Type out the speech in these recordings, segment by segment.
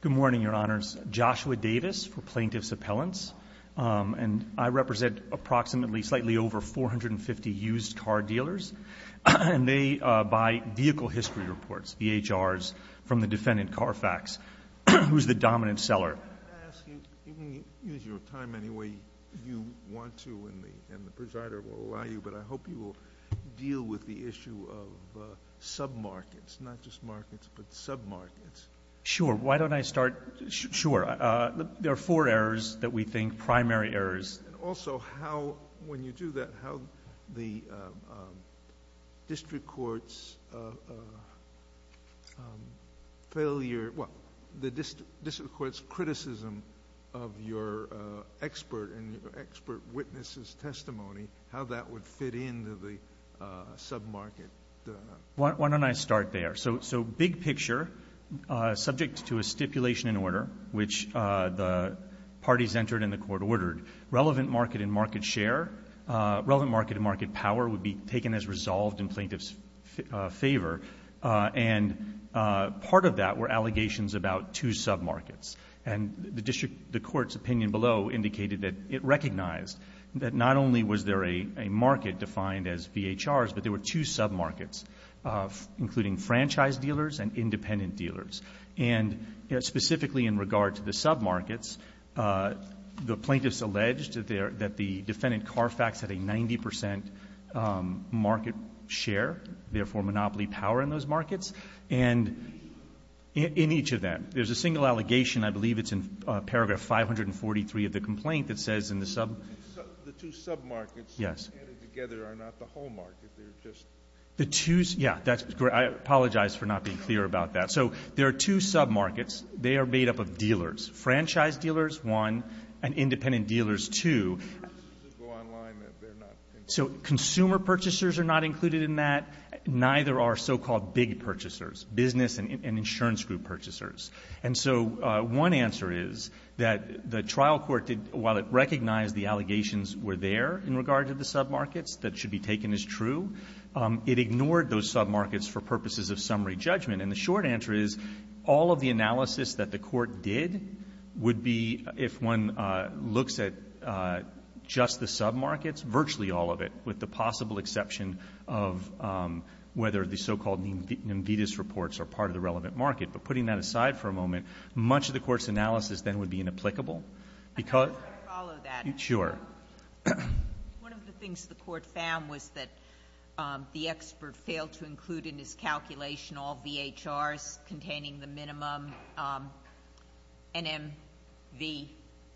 Good morning, your honors. Joshua Davis for Plaintiff's Appellants, and I represent approximately slightly over 450 used car dealers, and they buy vehicle history reports, VHRs, from the defendant Carfax, who's the dominant Why don't I start? Sure. There are four errors that we think, primary errors. And also, how, when you do that, how the district court's failure, well, the district court's criticism of your expert and your expert witness's testimony, how that would fit into the sub-market? Why don't I start there? So big picture, subject to a stipulation and order, which the parties entered in the court ordered, relevant market and market share, relevant market and market power would be taken as resolved in plaintiff's favor. And part of that were allegations about two sub-markets. And the district, the court's opinion below indicated that it recognized that not only was there a market defined as VHRs, but there were two sub-markets, including franchise dealers and independent dealers. And specifically in regard to the sub-markets, the plaintiffs alleged that the defendant Carfax had a 90 percent market share, therefore monopoly power in those markets. And in each of them, there's a single The two sub-markets added together are not the whole market. They're just... The two, yeah, that's great. I apologize for not being clear about that. So there are two sub-markets. They are made up of dealers, franchise dealers, one, and independent dealers, two. The purchases that go online, they're not... So consumer purchasers are not included in that. Neither are so-called big purchasers, business and insurance group purchasers. And so one answer is that the trial court, while it recognized the allegations were there in regard to the sub-markets that should be taken as true, it ignored those sub-markets for purposes of summary judgment. And the short answer is, all of the analysis that the court did would be, if one looks at just the sub-markets, virtually all of it, with the possible exception of whether the so-called NIMVDIS reports are part of the relevant market. But putting that aside for a moment, much of the court's analysis then would be inapplicable because... I don't know if I follow that. Sure. One of the things the court found was that the expert failed to include in his calculation all VHRs containing the minimum NMVDIS.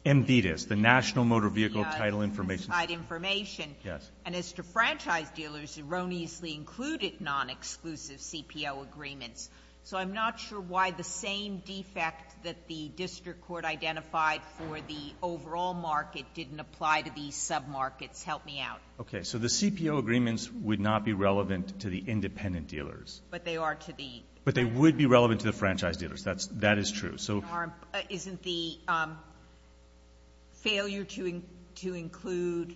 NMVDIS, the National Motor Vehicle Title Information... Yes, specified information. Yes. And as to franchise dealers, erroneously included non-exclusive CPO agreements. So I'm not sure why the same defect that the district court identified for the overall market didn't apply to these sub-markets. Help me out. Okay. So the CPO agreements would not be relevant to the independent dealers. But they are to the... But they would be relevant to the franchise dealers. That's — that is true. So... Isn't the failure to include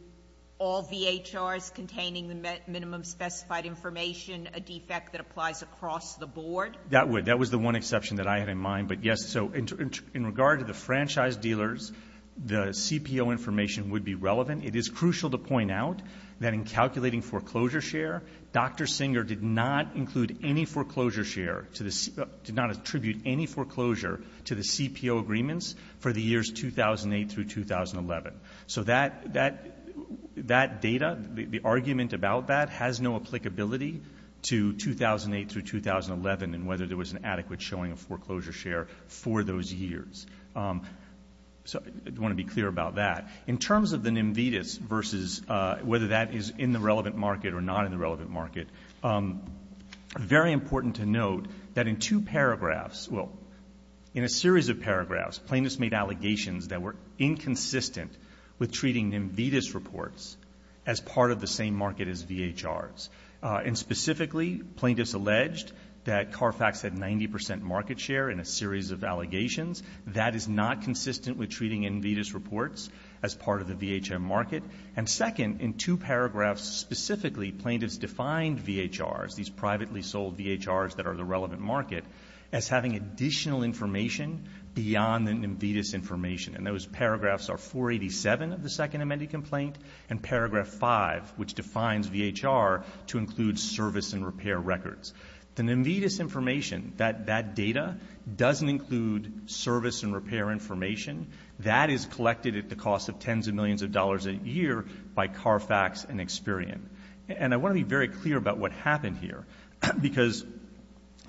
all VHRs containing the minimum specified information a defect that applies across the board? That would. That was the one exception that I had in mind. But yes, so in regard to the franchise dealers, the CPO information would be relevant. It is crucial to point out that in calculating foreclosure share, Dr. Singer did not include any foreclosure share to the C... did not attribute any foreclosure to the CPO agreements for the years 2008 through 2011. So that data, the argument about that, has no applicability to 2008 through 2011 and whether there was an adequate showing of foreclosure share for those years. So I want to be clear about that. In terms of the NIMVDIS versus whether that is in the relevant market or not in the relevant market, very important to note that in two paragraphs — well, in a series of paragraphs, plaintiffs made allegations that were inconsistent with treating NIMVDIS reports as part of the same market as VHRs. And specifically, plaintiffs alleged that Carfax had 90 percent market share in a series of allegations. That is not consistent with treating NIMVDIS reports as part of the VHR market. And second, in two paragraphs specifically, plaintiffs defined VHRs, these privately sold VHRs that are the relevant market, as having additional information beyond the NIMVDIS information. And those paragraphs are 487 of the second amended complaint and paragraph 5, which defines VHR to include service and repair records. The NIMVDIS information, that data, doesn't include service and repair information. That is collected at the cost of tens of millions of dollars a year by Carfax and Experian. And I want to be very clear about what happened here because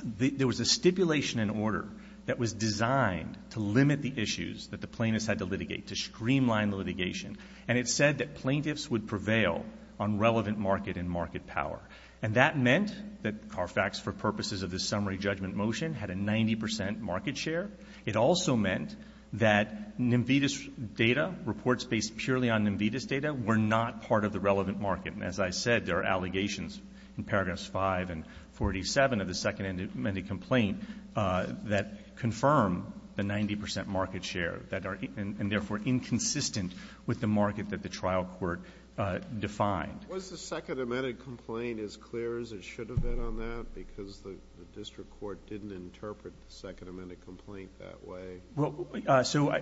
there was a stipulation and order that was designed to limit the issues that the plaintiffs had to litigate, to streamline litigation. And it said that plaintiffs would prevail on relevant market and market power. And that meant that Carfax, for purposes of the summary judgment motion, had a 90 percent market share. It also meant that NIMVDIS data, reports based purely on NIMVDIS data, were not part of the relevant market. And as I said, there are allegations in paragraphs 5 and 487 of the second amended complaint that confirm the 90 percent market share, and therefore inconsistent with the market that the trial court defined. Was the second amended complaint as clear as it should have been on that? Because the district court didn't interpret the second amended complaint that way. So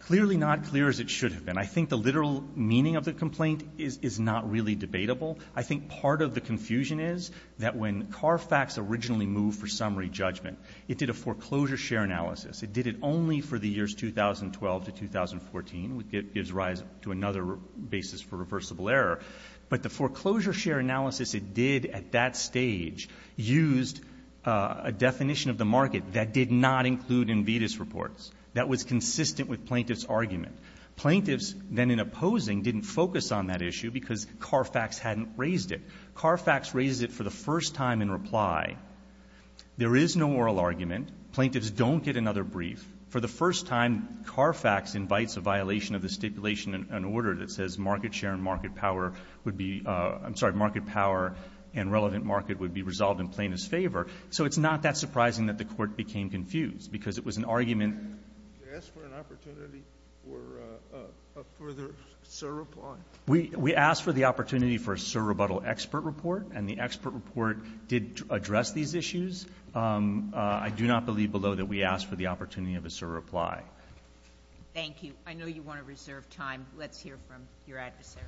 clearly not clear as it should have been. I think the literal meaning of the complaint is not really debatable. I think part of the confusion is that when Carfax originally moved for summary judgment, it did a foreclosure share analysis. It did it only for the years 2012 to 2014, which gives rise to another basis for reversible error. But the foreclosure share analysis it did at that stage used a definition of the market that did not include NIMVDIS reports. That was consistent with plaintiffs' argument. Plaintiffs, then in opposing, didn't focus on that issue because Carfax hadn't raised it. Carfax raised it for the first time in reply. There is no oral argument. Plaintiffs don't get another brief. For the first time, Carfax invites a violation of the stipulation and order that says market share and market power would be — I'm sorry, market power and relevant market would be resolved in plaintiff's favor. So it's not that surprising that the court became confused, because it was an argument — We asked for a further surreply. We asked for the opportunity for a surrebuttal expert report, and the expert report did address these issues. I do not believe below that we asked for the opportunity of a surreply. Thank you. I know you want to reserve time. Let's hear from your adversary.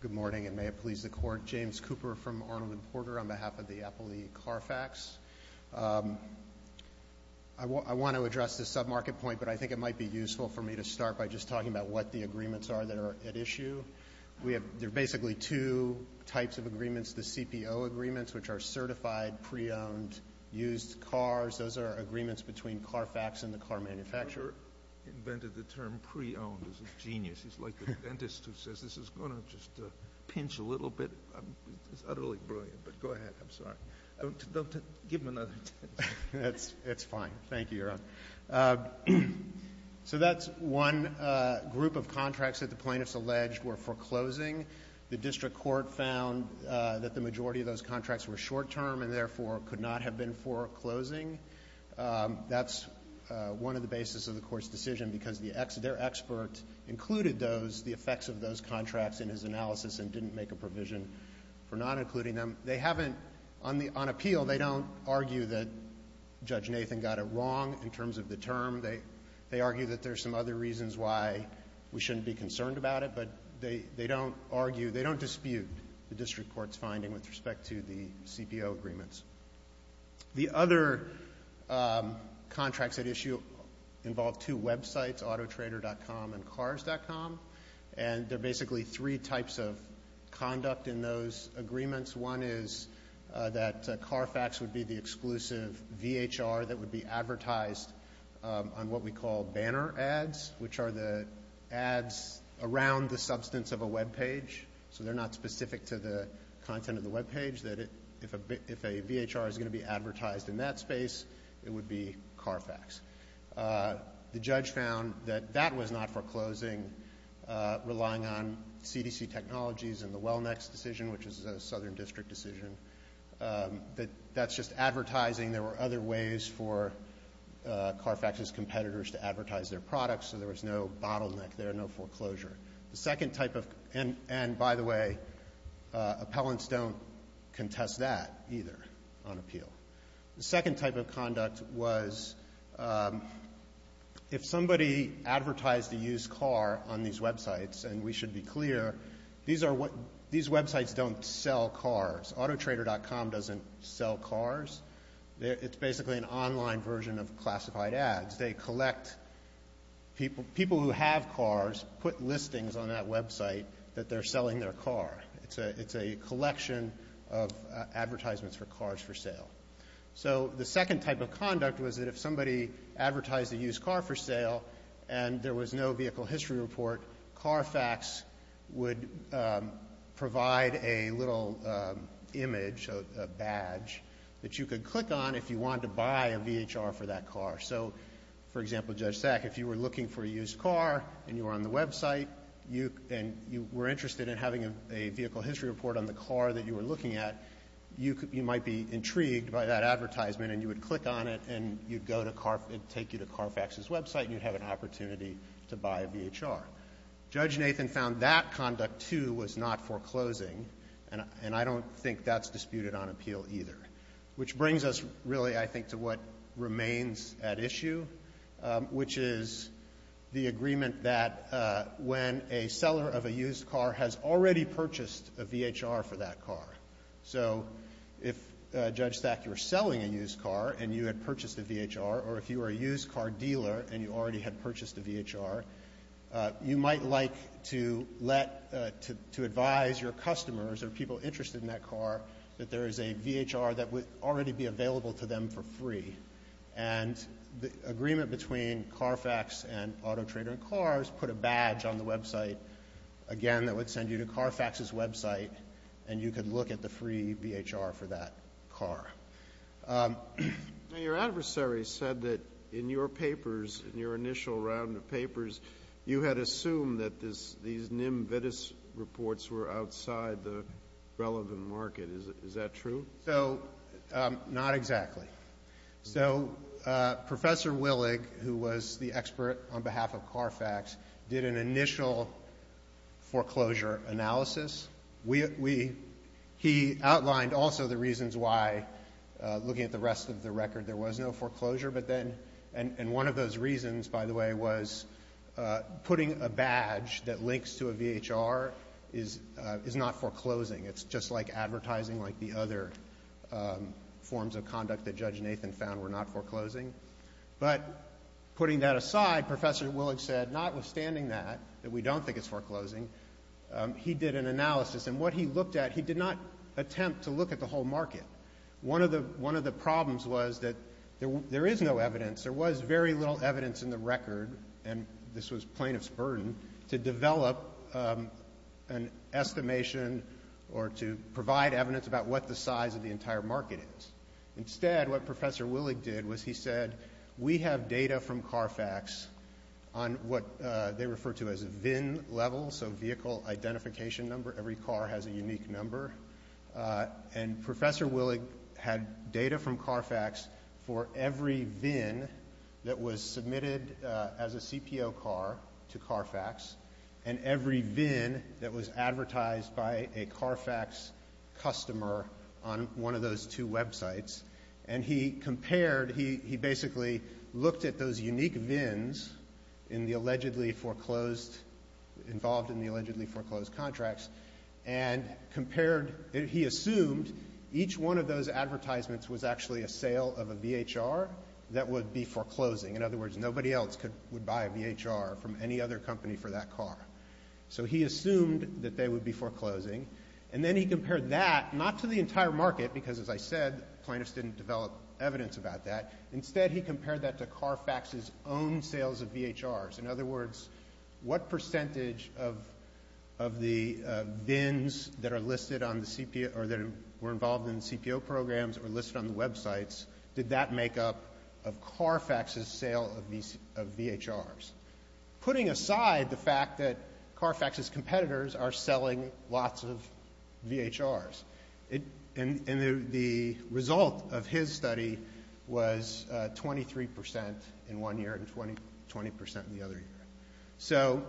Good morning, and may it please the Court. James Cooper from Arnold & Porter on behalf of the Appellee Carfax. I want to address this sub-market point, but I think it might be useful for me to start by just talking about what the agreements are that are at issue. We have — there are basically two types of agreements, the CPO agreements, which are certified, pre-owned, used cars. Those are agreements between Carfax and the car manufacturer. The court invented the term pre-owned. This is genius. It's like the dentist who says this is going to just pinch a little bit. It's utterly brilliant, but go ahead. I'm sorry. Don't — give him another chance. It's fine. Thank you, Your Honor. So that's one group of contracts that the plaintiffs alleged were foreclosing. The district court found that the majority of those contracts were short-term and therefore could not have been foreclosing. That's one of the basis of the court's decision, because the ex — their expert included those, the effects of those contracts in his analysis and didn't make a provision for not including them. They haven't — on the — on appeal, they don't argue that Judge Nathan got it wrong in terms of the term. They — they argue that there's some other reasons why we shouldn't be concerned about it, but they — they don't argue — they don't dispute the district court's finding with respect to the CPO agreements. The other contracts at issue involve two websites, autotrader.com and cars.com, and they're basically three types of conduct in those agreements. One is that Carfax would be the exclusive VHR that would be advertised on what we call banner ads, which are the ads around the substance of a webpage. So they're not specific to the content of the VHR that's going to be advertised in that space. It would be Carfax. The judge found that that was not foreclosing, relying on CDC technologies and the Wellnext decision, which is a southern district decision. That's just advertising. There were other ways for Carfax's competitors to advertise their products, so there was no bottleneck there, no foreclosure. The second type of — and, by the way, appellants don't contest that either on appeal. The second type of conduct was if somebody advertised a used car on these websites, and we should be clear, these are — these websites don't sell cars. Autotrader.com doesn't sell cars. It's basically an online version of classified ads. They collect people — people who have cars put listings on that website that they're selling their car. It's a collection of advertisements for cars for sale. So the second type of conduct was that if somebody advertised a used car for sale and there was no vehicle history report, Carfax would provide a little image, a badge, that you could click on if you wanted to buy a VHR for that car. So, for example, Judge Sack, if you were looking for a used car and you were on the website and you were interested in having a vehicle history report on the car that you were looking at, you might be intrigued by that advertisement and you would click on it and you'd go to Carfax — it'd take you to Carfax's website and you'd have an opportunity to buy a VHR. Judge Nathan found that conduct, too, was not foreclosing, and I don't think that's disputed on appeal either, which brings us, really, I think, to what remains at issue, which is the agreement that when a seller of a used car has already purchased a VHR for that car — so if, Judge Sack, you were selling a used car and you had purchased a VHR or if you were a used car dealer and you already had purchased a VHR, you might like to let — to advise your customers or people interested in that car that there is a VHR that would already be available to them for free, and the agreement between Carfax and Auto Trader & Cars put a badge on the website, again, that would send you to Carfax's website and you could look at the free VHR for that car. Your adversary said that in your papers, in your initial round of papers, you had assumed that these NIMVDIS reports were outside the relevant market. Is that true? So, not exactly. So, Professor Willig, who was the expert on behalf of Carfax, did an initial foreclosure analysis. We — he outlined also the reasons why, looking at the rest of the record, there was no foreclosure, but then — and one of those reasons, by the way, was putting a badge that links to a VHR is not foreclosing. It's just like advertising like the other forms of conduct that Judge Nathan found were not foreclosing. But putting that aside, Professor Willig said, notwithstanding that, that we don't think it's foreclosing, he did an analysis, and what he looked at, he did not attempt to look at the whole market. One of the — one of the problems was that there is no evidence, there was very little evidence in the record, and this was plaintiff's burden, to develop an estimation or to provide evidence about what the size of the entire market is. Instead, what Professor Willig did was he said, we have data from Carfax on what they refer to as a VIN level, so vehicle identification number. Every car has a unique number. And Professor Willig had data from Carfax for every VIN that was submitted as a CPO car to Carfax, and every VIN that was on one of those two websites, and he compared, he basically looked at those unique VINs in the allegedly foreclosed — involved in the allegedly foreclosed contracts, and compared — he assumed each one of those advertisements was actually a sale of a VHR that would be foreclosing. In other words, nobody else could — would buy a VHR from any other company for that car. So he assumed that they would be foreclosing, and then he compared that not to the entire market, because as I said, plaintiffs didn't develop evidence about that. Instead, he compared that to Carfax's own sales of VHRs. In other words, what percentage of — of the VINs that are listed on the — or that were involved in the CPO programs or listed on the websites, did that make up of Carfax's sale of VHRs? Putting aside the fact that Carfax's competitors are selling lots of VHRs, and the result of his study was 23 percent in one year and 20 percent in the other year. So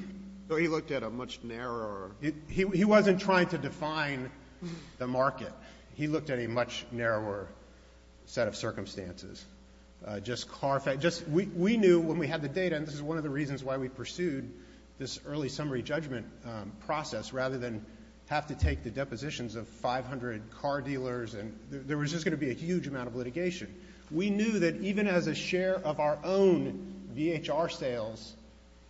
— So he looked at a much narrower — He wasn't trying to define the market. He looked at a much narrower set of circumstances. Just Carfax — just — we knew when we had the data, and this is one of the reasons why we pursued this early summary judgment process, rather than have to take the depositions of 500 car dealers and — there was just going to be a huge amount of litigation. We knew that even as a share of our own VHR sales,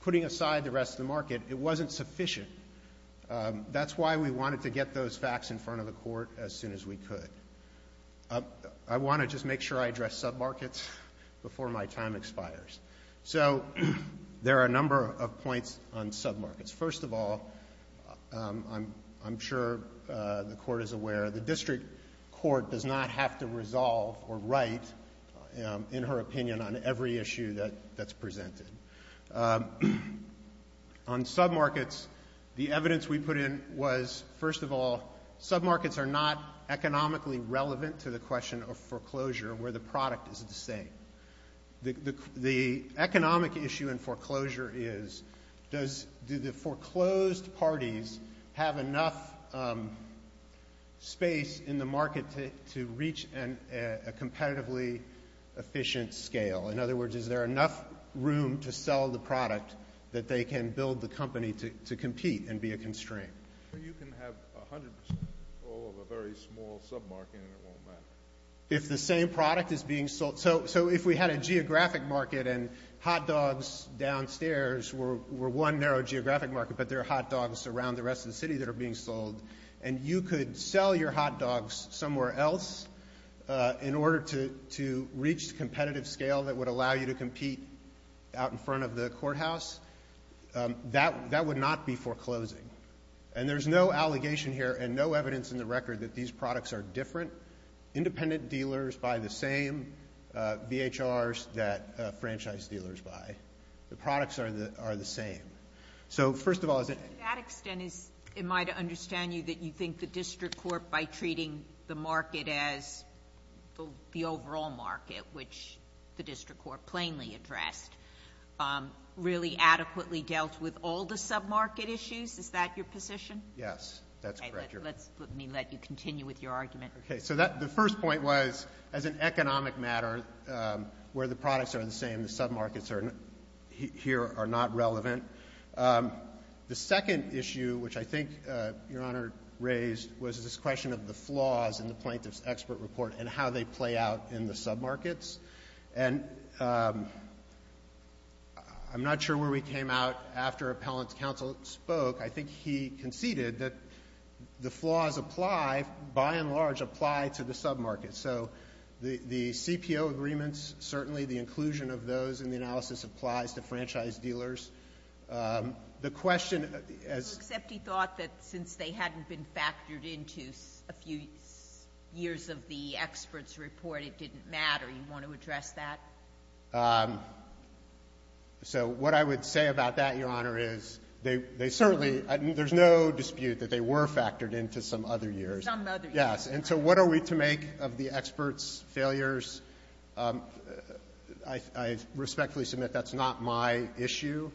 putting aside the rest of the market, it wasn't sufficient. That's why we wanted to get those facts in front of the Court as soon as we could. I want to just make sure I address submarkets before my time expires. So there are a number of points on submarkets. First of all, I'm sure the Court is aware the district court does not have to resolve or write, in her opinion, on every issue that's presented. On submarkets, the evidence we put in was, first of all, submarkets are not economically relevant to the question of foreclosure, where the product is the same. The economic issue in foreclosure is, does — do the foreclosed parties have enough space in the market to reach a competitively efficient scale? In other words, is there enough room to sell the product that they can build the company to compete and be a constraint? Well, you can have 100 percent control of a very small submarket, and it won't matter. If the same product is being sold — so if we had a geographic market and hot dogs downstairs were one narrow geographic market, but there are hot dogs around the rest of the city that are being sold, and you could sell your hot dogs somewhere else in order to reach the competitive scale that would allow you to compete out in front of the courthouse, that — that would not be foreclosing. And there's no allegation here and no evidence in the record that these products are different. Independent dealers buy the same VHRs that franchise dealers buy. The products are the — are the same. So, first of all, is it — To that extent, is — am I to understand you that you think the district court, by the overall market, which the district court plainly addressed, really adequately dealt with all the submarket issues? Is that your position? Yes. That's correct. Okay. Let's — let me let you continue with your argument. Okay. So that — the first point was, as an economic matter, where the products are the same, the submarkets are — here are not relevant. The second issue, which I think Your Honor raised, was this question of the flaws in the Plaintiff's Expert Report and how they play out in the submarkets. And I'm not sure where we came out after Appellant's counsel spoke. I think he conceded that the flaws apply, by and large, apply to the submarkets. So the — the CPO agreements, certainly the inclusion of those in the analysis applies to franchise dealers. The question, as — Except he thought that since they hadn't been factored into a few years of the experts' report, it didn't matter. Do you want to address that? So what I would say about that, Your Honor, is they — they certainly — there's no dispute that they were factored into some other years. Some other years. Yes. And so what are we to make of the experts' failures? I — I respectfully submit that's not my issue.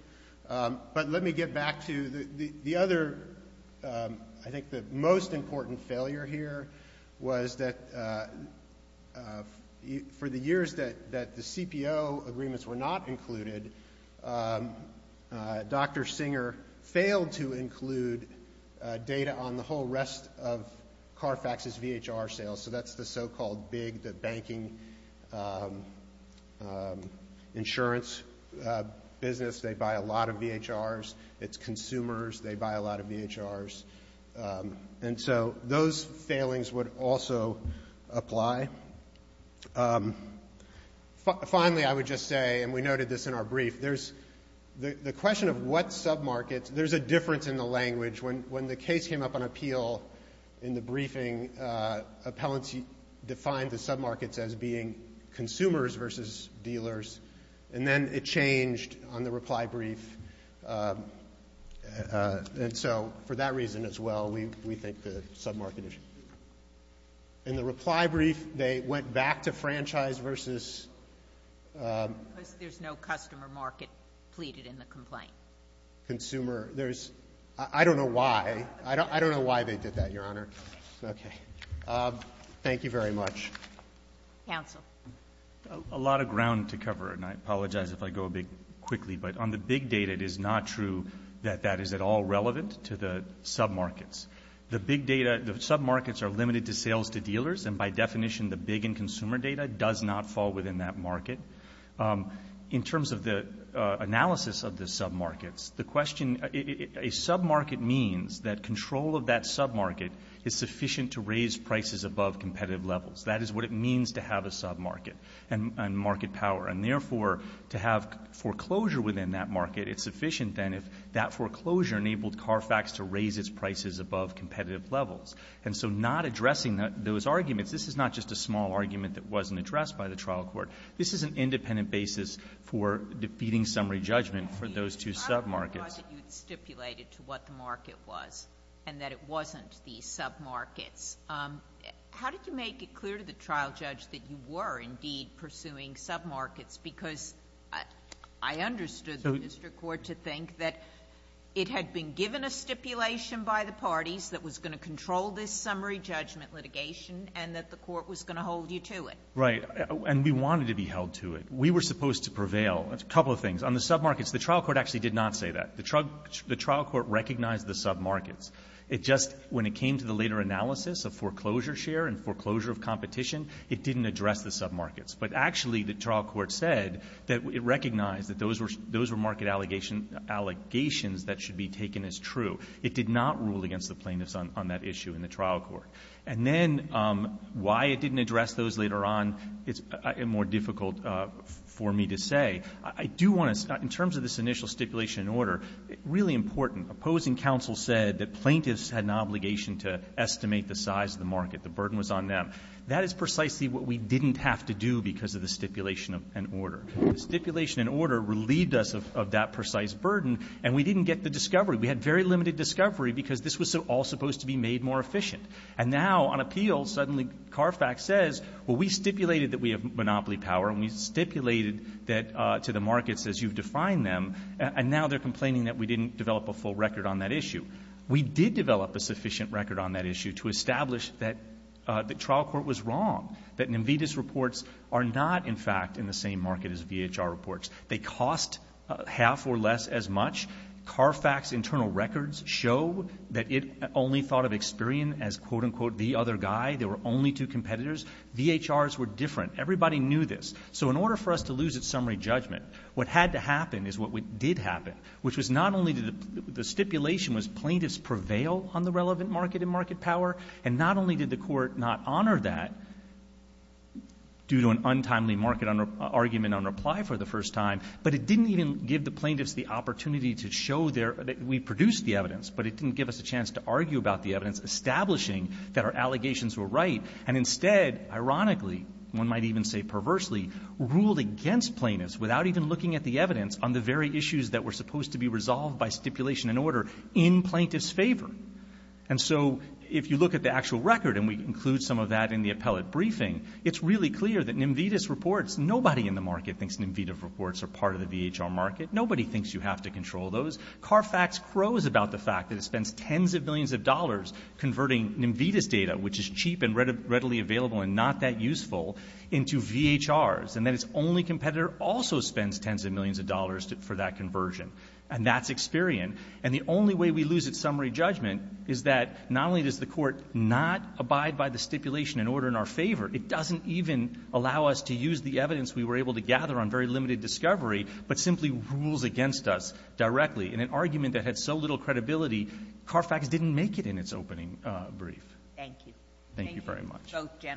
But let me get back to the — the other — I think the most important failure here was that for the years that — that the CPO agreements were not included, Dr. Singer failed to include data on the whole rest of Carfax's VHR sales. So that's the so-called big — the banking insurance business. They buy a lot of VHRs. It's consumers. They buy a lot of VHRs. And so those failings would also apply. Finally, I would just say, and we noted this in our brief, there's — the question of what submarkets, there's a difference in the language. When the case came up on appeal in the briefing, appellants defined the submarkets as being consumers versus dealers, and then it changed on the reply brief. And so for that reason as well, we think the submarket issue. In the reply brief, they went back to franchise versus — Because there's no customer market pleaded in the complaint. Consumer. There's — I don't know why. I don't know why they did that, Your Honor. Okay. Thank you very much. Counsel. A lot of ground to cover, and I apologize if I go a bit quickly. But on the big data, it is not true that that is at all relevant to the submarkets. The big data — the submarkets are limited to sales to dealers, and by definition, the big and consumer data does not fall within that market. In terms of the analysis of the submarkets, the question — a submarket means that control of that submarket is sufficient to raise prices above competitive levels. That is what it means to have a submarket and market power. And therefore, to have foreclosure within that market, it's sufficient then if that foreclosure enabled Carfax to raise its prices above competitive levels. And so not addressing those arguments, this is not just a small argument that wasn't addressed by the trial court. This is an independent basis for defeating summary judgment for those two submarkets. I apologize that you had stipulated to what the market was and that it wasn't the submarkets. How did you make it clear to the trial judge that you were, indeed, pursuing submarkets? Because I understood the district court to think that it had been given a stipulation by the parties that was going to control this summary judgment to hold you to it. Right. And we wanted to be held to it. We were supposed to prevail. A couple of things. On the submarkets, the trial court actually did not say that. The trial court recognized the submarkets. It just — when it came to the later analysis of foreclosure share and foreclosure of competition, it didn't address the submarkets. But actually, the trial court said that it recognized that those were — those were market allegations that should be taken as true. It did not rule against the plaintiffs on that issue in the trial court. And then why it didn't address those later on is more difficult for me to say. I do want to — in terms of this initial stipulation and order, really important. Opposing counsel said that plaintiffs had an obligation to estimate the size of the market. The burden was on them. That is precisely what we didn't have to do because of the stipulation and order. The stipulation and order relieved us of that precise burden, and we didn't get the discovery. We had very limited discovery because this was all supposed to be made more efficient. And now, on appeal, suddenly CARFAC says, well, we stipulated that we have monopoly power, and we stipulated that — to the markets as you've defined them, and now they're complaining that we didn't develop a full record on that issue. We did develop a sufficient record on that issue to establish that the trial court was wrong, that NIMVDIS reports are not, in fact, in the same market as VHR reports. They cost half or less as much. CARFAC's internal records show that it only thought of Experian as, quote, unquote, the other guy. There were only two competitors. VHRs were different. Everybody knew this. So in order for us to lose its summary judgment, what had to happen is what did happen, which was not only did the — the stipulation was plaintiffs prevail on the relevant market and market power, and not only did the court not honor that due to an untimely market argument on reply for the first time, but it didn't even give the plaintiffs the opportunity to show their — that we produced the evidence. But it didn't give us a chance to argue about the evidence establishing that our allegations were right, and instead, ironically, one might even say perversely, ruled against plaintiffs without even looking at the evidence on the very issues that were supposed to be resolved by stipulation and order in plaintiffs' favor. And so if you look at the actual record, and we include some of that in the appellate briefing, it's really clear that NIMVDIS reports — nobody in the market thinks NIMVDIS reports are part of the VHR market. Nobody thinks you have to control those. CARFAX crows about the fact that it spends tens of millions of dollars converting NIMVDIS data, which is cheap and readily available and not that useful, into VHRs, and that its only competitor also spends tens of millions of dollars for that conversion. And that's expirient. And the only way we lose its summary judgment is that not only does the court not abide by the stipulation and order in our favor, it doesn't even allow us to use the evidence we were able to gather on very limited discovery, but simply rules against us directly in an argument that had so little credibility, CARFAX didn't make it in its opening brief. Thank you. Thank you very much. Thank you.